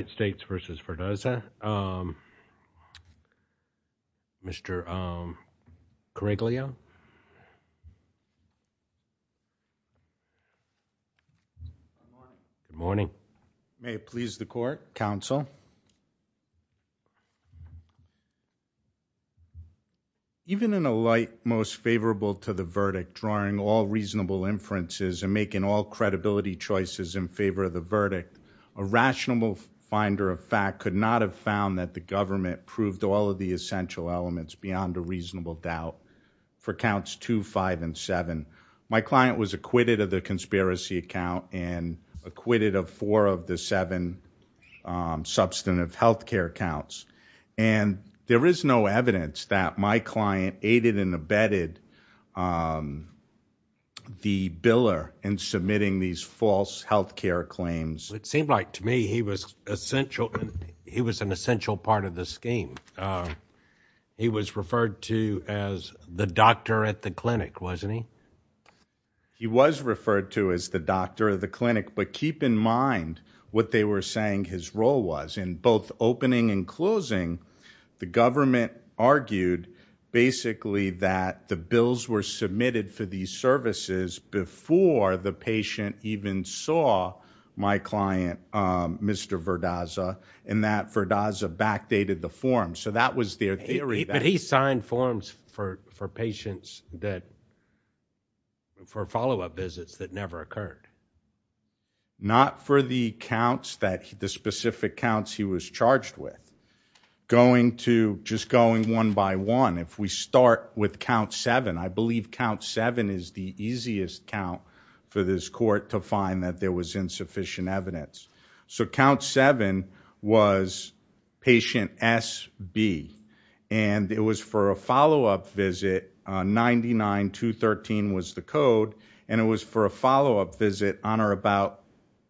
United States v. Verdeza Mr. Corregaleo Good morning. May it please the court. Counsel. Even in a light most favorable to the verdict drawing all reasonable inferences and making all credibility choices in favor of the verdict, a rational finder of fact could not have found that the government proved all of the essential elements beyond a reasonable doubt for counts 2, 5, and 7. My client was acquitted of the conspiracy account and acquitted of four of the seven substantive health care counts. And there is no evidence that my client aided and abetted the biller in submitting these false health care claims. It seemed like to me he was essential. He was an essential part of the scheme. He was referred to as the doctor at the clinic, wasn't he? He was referred to as the doctor of the clinic, but keep in mind what they were saying his role was in both opening and closing. The government argued basically that the bills were submitted for these services before the patient even saw my client Mr. Verdeza and that Verdeza backdated the form. So that was their theory. But he signed forms for patients that for follow-up visits that never occurred. Not for the counts that the specific counts he was charged with. Going to just going one by one, if we start with count 7, I believe count 7 is the easiest count for this court to find that there was insufficient evidence. So count 7 was patient SB and it was for a follow-up visit 99213 was the code and it was for a follow-up visit on or about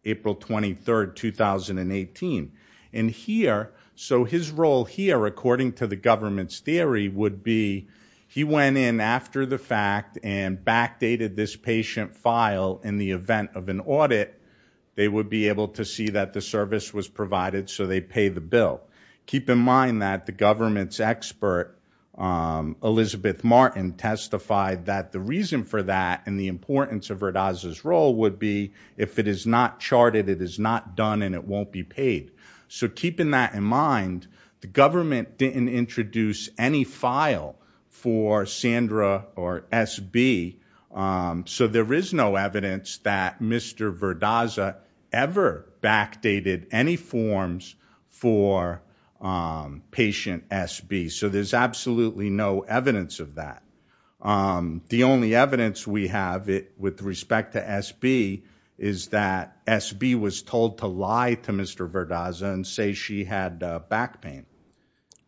April 23, 2018. So his role here according to the government's theory would be he went in after the fact and backdated this patient file in the event of an audit, they would be able to see that the service was provided so they pay the bill. Keep in mind that the government's expert Elizabeth Martin testified that the reason for that and the importance of Verdeza's role would be if it is not charted, it is not done and it won't be paid. So keeping that in mind, the government didn't introduce any file for Sandra or SB. So there is no evidence that Mr. Verdeza ever backdated any forms for patient SB. So there's absolutely no evidence of that. The only evidence we have with respect to SB is that SB was told to lie to Mr. Verdeza and say she had back pain.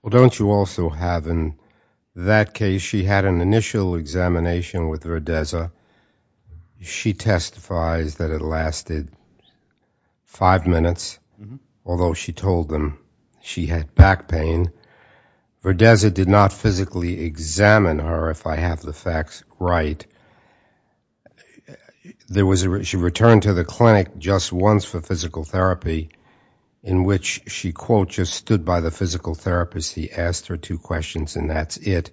Well, don't you also have in that case, she had an initial examination with Verdeza. She testifies that it lasted five minutes, although she told them she had back pain. Verdeza did not physically examine her, if I have the facts right. She returned to the clinic just once for physical therapy in which she, quote, just stood by the physical therapist. He asked her two questions and that's it.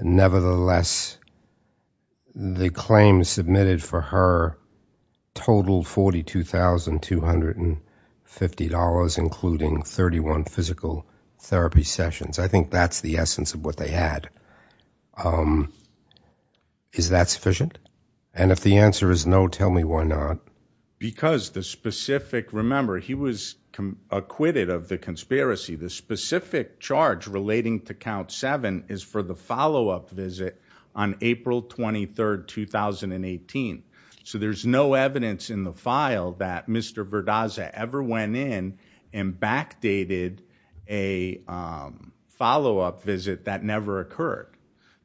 Nevertheless, the claim submitted for her totaled $42,250, including 31 physical therapy sessions. I think that's the essence of what they had. Is that sufficient? And if the answer is no, tell me why not? Because the specific, remember, he was acquitted of the conspiracy. The specific charge relating to count seven is for the follow-up visit on April 23rd, 2018. So there's no evidence in the file that Mr. Verdeza ever went in and backdated a follow-up visit that never occurred.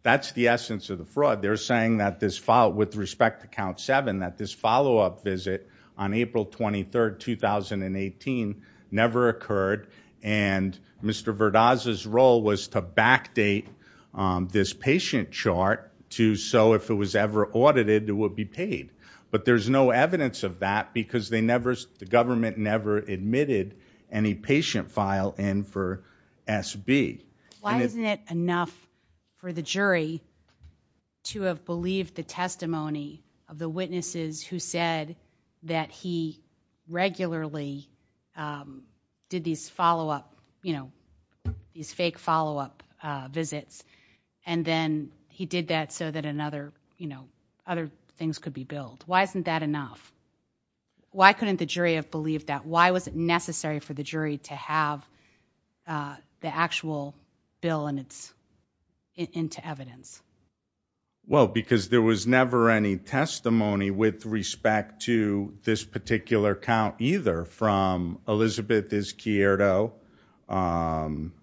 That's the essence of the fraud. They're saying that this file, with respect to count seven, that this follow-up visit on April 23rd, 2018 never occurred. And Mr. Verdeza's role was to backdate this patient chart to so if it was ever audited, it would be paid. But there's no evidence of that because they never, the government never admitted any patient file in for SB. Why isn't it enough for the jury to have believed the testimony of the witnesses who said that he regularly did these follow-up, you know, these fake follow-up visits and then he did that so another, you know, other things could be billed? Why isn't that enough? Why couldn't the jury have believed that? Why was it necessary for the jury to have the actual bill and it's into evidence? Well, because there was never any testimony with respect to this particular count either from Elizabeth Izquierdo from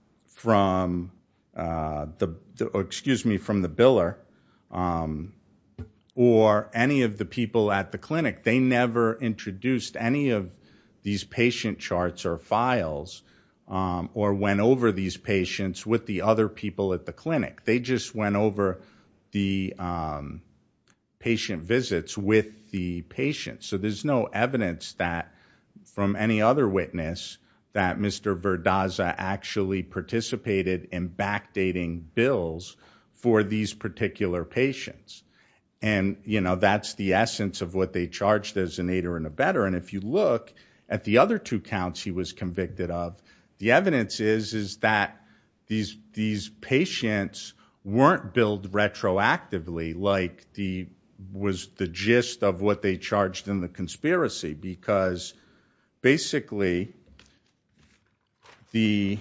the, excuse me, from the biller or any of the people at the clinic. They never introduced any of these patient charts or files or went over these patients with the other people at the clinic. They just went over the patient visits with the patient. So there's no evidence that from any other witness that Mr. Verdaza actually participated in backdating bills for these particular patients and, you know, that's the essence of what they charged as an aider and a better and if you look at the other two counts he was convicted of, the evidence is is that these patients weren't billed retroactively like the was the gist of they charged in the conspiracy because basically the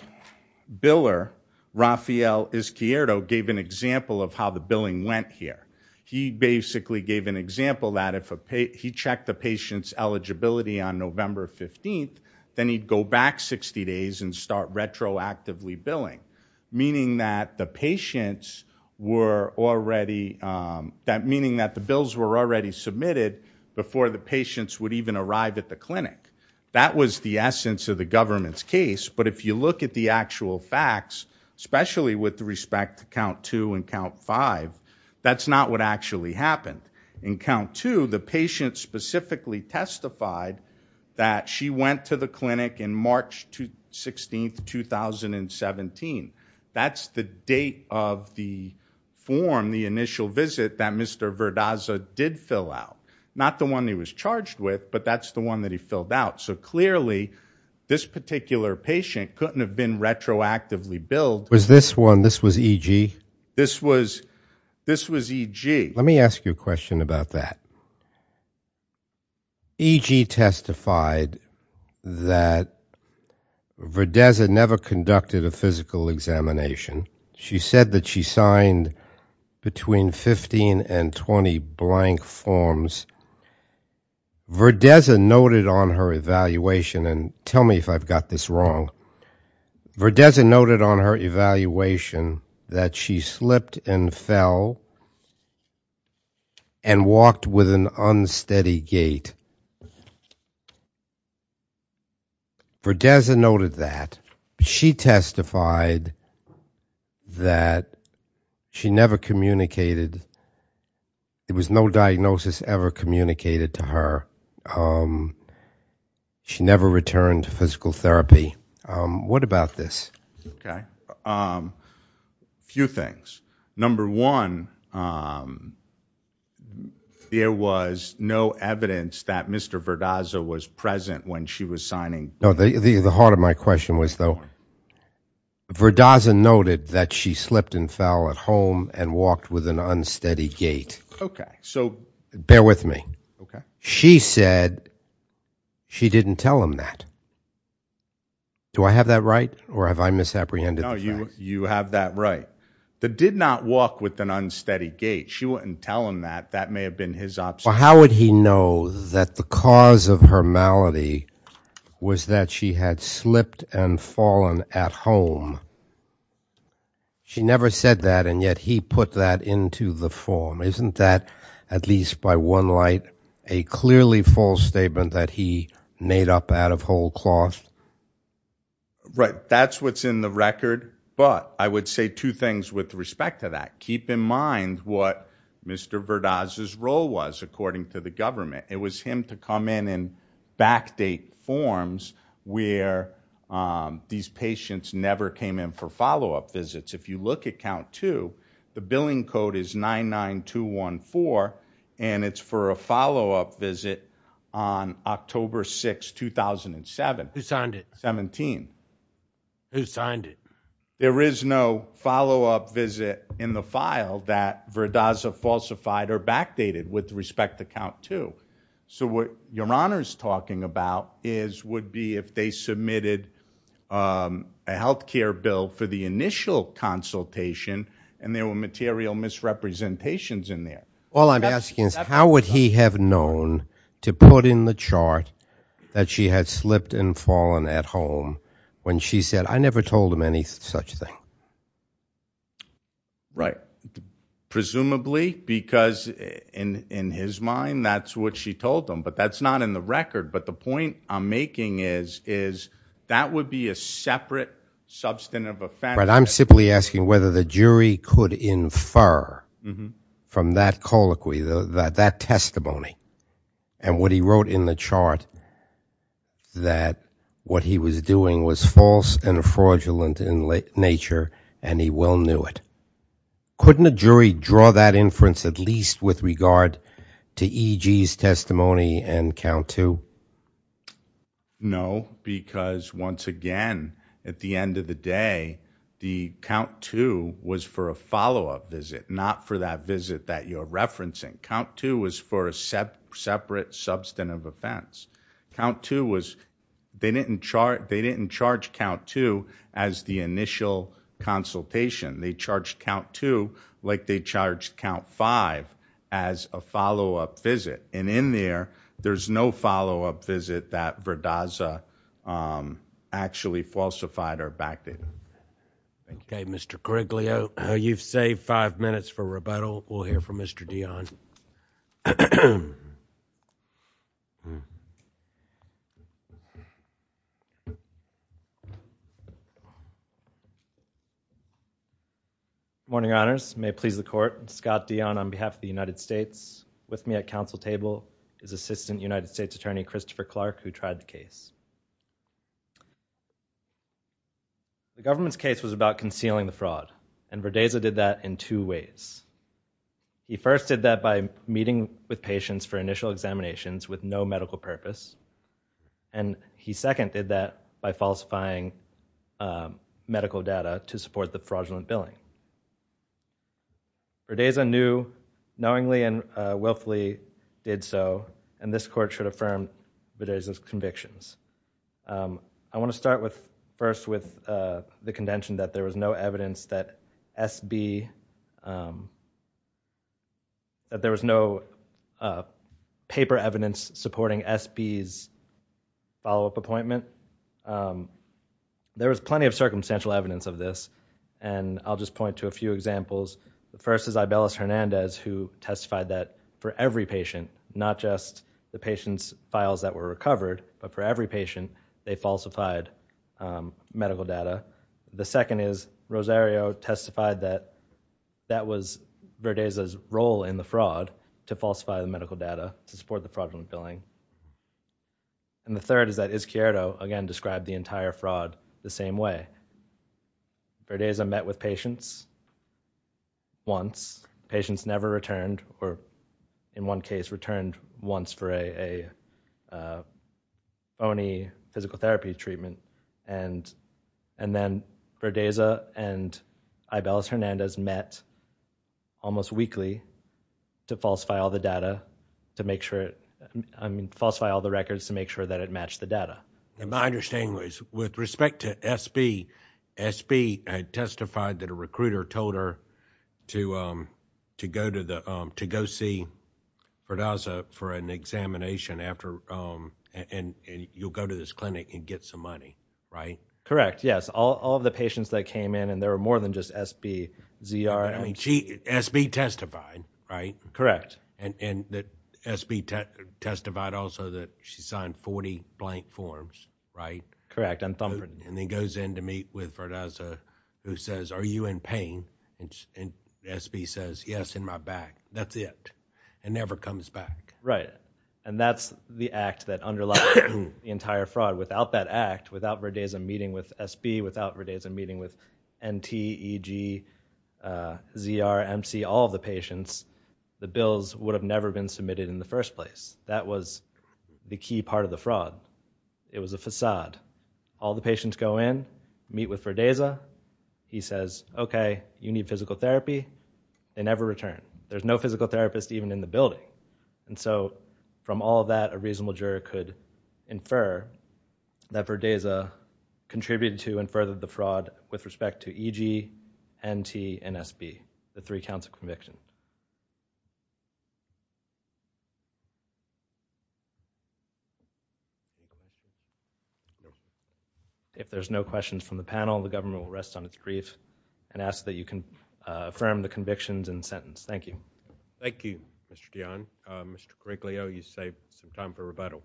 biller, Rafael Izquierdo, gave an example of how the billing went here. He basically gave an example that if he checked the patient's eligibility on November 15th then he'd go back 60 days and start retroactively billing, meaning that the patients were already that meaning that the bills were already submitted before the patients would even arrive at the clinic. That was the essence of the government's case but if you look at the actual facts especially with respect to count two and count five that's not what actually happened. In count two the patient specifically testified that she went to the clinic in March 16th 2017. That's the date of the form the initial visit that Mr. Verdaza did fill out. Not the one he was charged with but that's the one that he filled out so clearly this particular patient couldn't have been retroactively billed. Was this one this was EG? This was this was EG. Let me ask you a question about that. EG testified that Verdaza never conducted a physical examination. She said that she signed between 15 and 20 blank forms. Verdaza noted on her evaluation and tell me if I've got this wrong. Verdaza noted on her evaluation that she slipped and fell and walked with an unsteady gait. Verdaza noted that she testified that she never communicated. It was no diagnosis ever communicated to her. She never returned to physical therapy. What about this? Okay a few things. Number one there was no evidence that Mr. Verdaza was present when she was signing. No the the heart of my Okay so bear with me. Okay she said she didn't tell him that. Do I have that right or have I misapprehended? No you you have that right that did not walk with an unsteady gait. She wouldn't tell him that that may have been his option. How would he know that the cause of her malady was that she had slipped and fallen at home? No she never said that and yet he put that into the form. Isn't that at least by one light a clearly false statement that he made up out of whole cloth? Right that's what's in the record but I would say two things with respect to that. Keep in mind what Mr. Verdaza's role was according to the government. It was him to come in and backdate forms where these patients never came in for follow-up visits. If you look at count two the billing code is 99214 and it's for a follow-up visit on October 6, 2007. Who signed it? 17. Who signed it? There is no follow-up visit in the file that Verdaza falsified or backdated with respect to count two. So what your honor is talking about is would be if they submitted a health care bill for the initial consultation and there were material misrepresentations in there. All I'm asking is how would he have known to put in the chart that she had slipped and fallen at home when she said I never told him any such thing? Right. Presumably because in in his mind that's what she told them but that's not in the record but the point I'm making is is that would be a separate substantive offense. Right I'm simply asking whether the jury could infer from that colloquy that that testimony and what he wrote in the chart that what he was doing was false and fraudulent in nature and he well knew it. Couldn't a jury draw that inference at least with regard to EG's testimony and count two? No because once again at the end of the day the count two was for a follow-up visit not for that count two was they didn't chart they didn't charge count two as the initial consultation. They charged count two like they charged count five as a follow-up visit and in there there's no follow-up visit that Verdaza actually falsified or backed it. Okay Mr. Criglio you've saved five minutes for rebuttal we'll hear from Mr. Dion. Good morning your honors may it please the court Scott Dion on behalf of the United States with me at council table is Assistant United States Attorney Christopher Clark who tried the case. The government's case was about concealing the fraud and Verdaza did that in two ways. He first did that by meeting with patients for initial examinations with no medical purpose and he second did that by falsifying medical data to support the fraudulent billing. Verdaza knew knowingly and willfully did so and this court should affirm Verdaza's convictions. I want to start with first with the contention that there was no evidence that SB that there was no paper evidence supporting SB's follow-up appointment. There was plenty of circumstantial evidence of this and I'll just point to a few examples. The first is Ibelis Hernandez who testified that for every patient not just the patient's files that were recovered but for every patient they falsified medical data. The second is Rosario testified that that was Verdaza's role in the fraud to falsify the medical data to support the fraudulent billing and the third is that Izquierdo again described the entire fraud the same way. Verdaza met with patients once patients never returned or in one case returned once for a phony physical therapy treatment and then Verdaza and Ibelis Hernandez met almost weekly to falsify all the data to make sure it I mean falsify all the records to make sure that it matched the data. My understanding was with respect to SB, SB had testified that a Verdaza for an examination after and you'll go to this clinic and get some money, right? Correct, yes. All of the patients that came in and there were more than just SB, ZR. I mean she SB testified, right? Correct. And that SB testified also that she signed 40 blank forms, right? Correct. And then goes in to meet with Verdaza who says are you in pain and SB says yes in my back. That's it. It never comes back. Right and that's the act that underlies the entire fraud. Without that act, without Verdaza meeting with SB, without Verdaza meeting with NT, EG, ZR, MC, all the patients the bills would have never been submitted in the first place. That was the key part of the fraud. It was a facade. All the patients go in meet with Verdaza. He says okay you need physical therapy. They never return. There's no physical therapist even in the building and so from all that a reasonable juror could infer that Verdaza contributed to and furthered the fraud with respect to EG, NT, and SB. The three counts of conviction. If there's no questions from the panel, the government will rest on its grief and ask that you can affirm the convictions and sentence. Thank you. Thank you, Mr. Dionne. Mr. Griglio, you saved some time for rebuttal.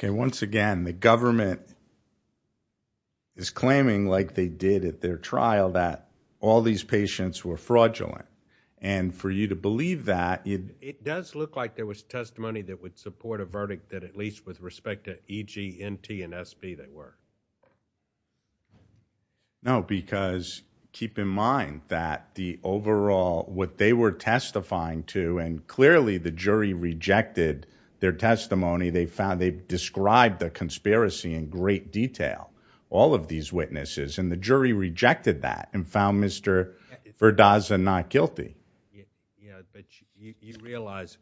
Okay, once again the government is claiming like they did at their trial that all these patients were fraudulent and for you to believe that. It does look like there was testimony that support a verdict that at least with respect to EG, NT, and SB that were. No, because keep in mind that the overall what they were testifying to and clearly the jury rejected their testimony. They found they described the conspiracy in great detail. All of these witnesses and the jury rejected that and found Mr. Verdaza not guilty. Yeah, but you realize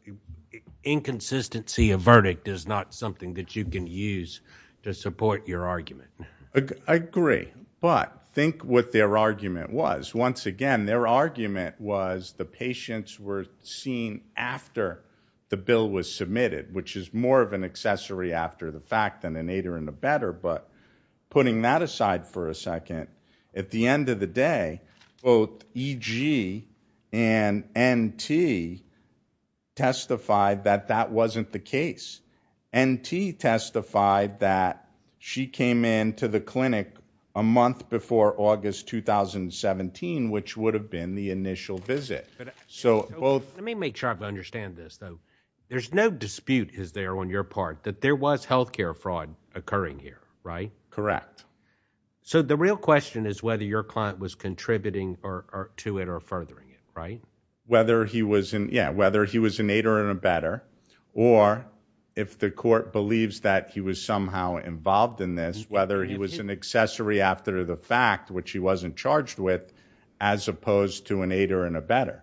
inconsistency a verdict is not something that you can use to support your argument. I agree, but think what their argument was. Once again, their argument was the patients were seen after the bill was submitted which is more of an accessory after the fact than but putting that aside for a second. At the end of the day, both EG and NT testified that that wasn't the case. NT testified that she came into the clinic a month before August 2017 which would have been the initial visit. Let me make sure I understand this though. There's no dispute is healthcare fraud occurring here, right? Correct. So the real question is whether your client was contributing to it or furthering it, right? Whether he was an aider and abetter or if the court believes that he was somehow involved in this whether he was an accessory after the fact which he wasn't charged with as opposed to an aider and abetter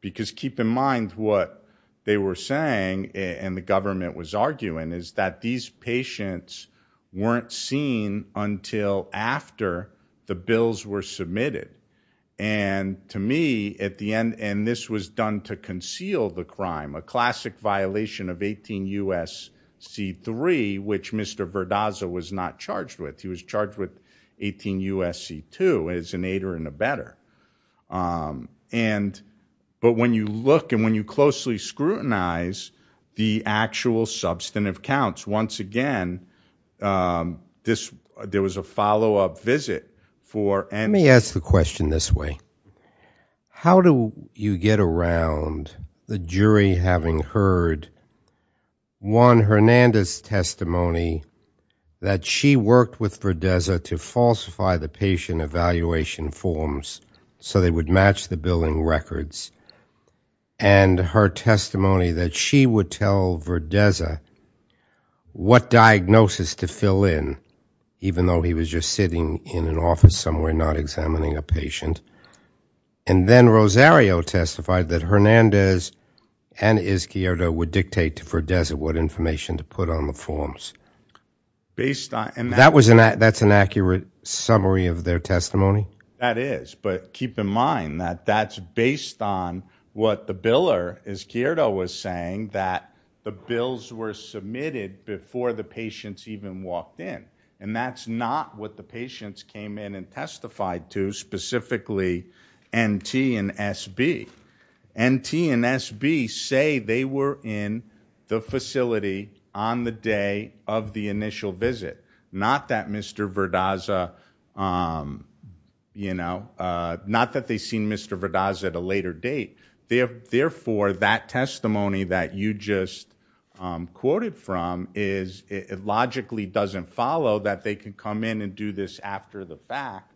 because keep in mind what they were saying and the government was arguing is that these patients weren't seen until after the bills were submitted and to me at the end and this was done to conceal the crime a classic violation of 18 U.S.C. 3 which Mr. Verdaza was not charged with. He was charged with 18 U.S.C. 2 as an aider and abetter. But when you look and when you closely scrutinize the actual substantive counts, once again, there was a follow-up visit for NT. Let me ask the question this way. How do you get around the jury having heard Juan Hernandez's testimony that she worked with Verdaza to falsify the patient evaluation forms so they would match the billing records and her testimony that she would tell Verdaza what diagnosis to fill in even though he was just sitting in an office somewhere not examining a patient and then Rosario testified that Hernandez and Izquierdo would dictate to summary of their testimony? That is but keep in mind that that's based on what the biller Izquierdo was saying that the bills were submitted before the patients even walked in and that's not what the patients came in and testified to specifically NT and SB. NT and SB say they were in the facility on the day of the initial visit. Not that Mr. Verdaza, you know, not that they seen Mr. Verdaza at a later date. Therefore, that testimony that you just quoted from is logically doesn't follow that they can come in and do this after the fact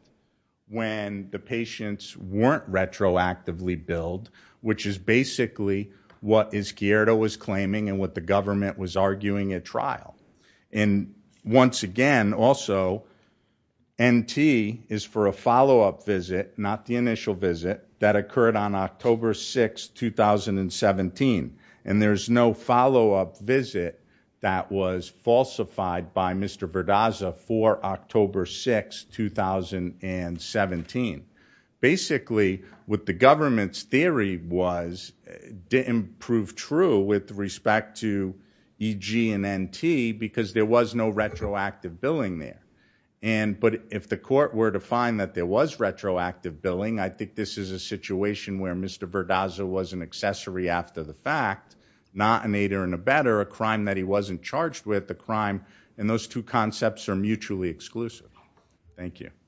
when the patients weren't retroactively billed which is basically what Izquierdo was claiming and what the government was arguing at trial and once again also NT is for a follow-up visit not the initial visit that occurred on October 6, 2017 and there's no follow-up visit that was in 2017. Basically, what the government's theory was didn't prove true with respect to EG and NT because there was no retroactive billing there and but if the court were to find that there was retroactive billing I think this is a situation where Mr. Verdaza was an accessory after the fact not an aider and abetter a crime that he wasn't charged with the crime and those two concepts are mutually exclusive. Thank you.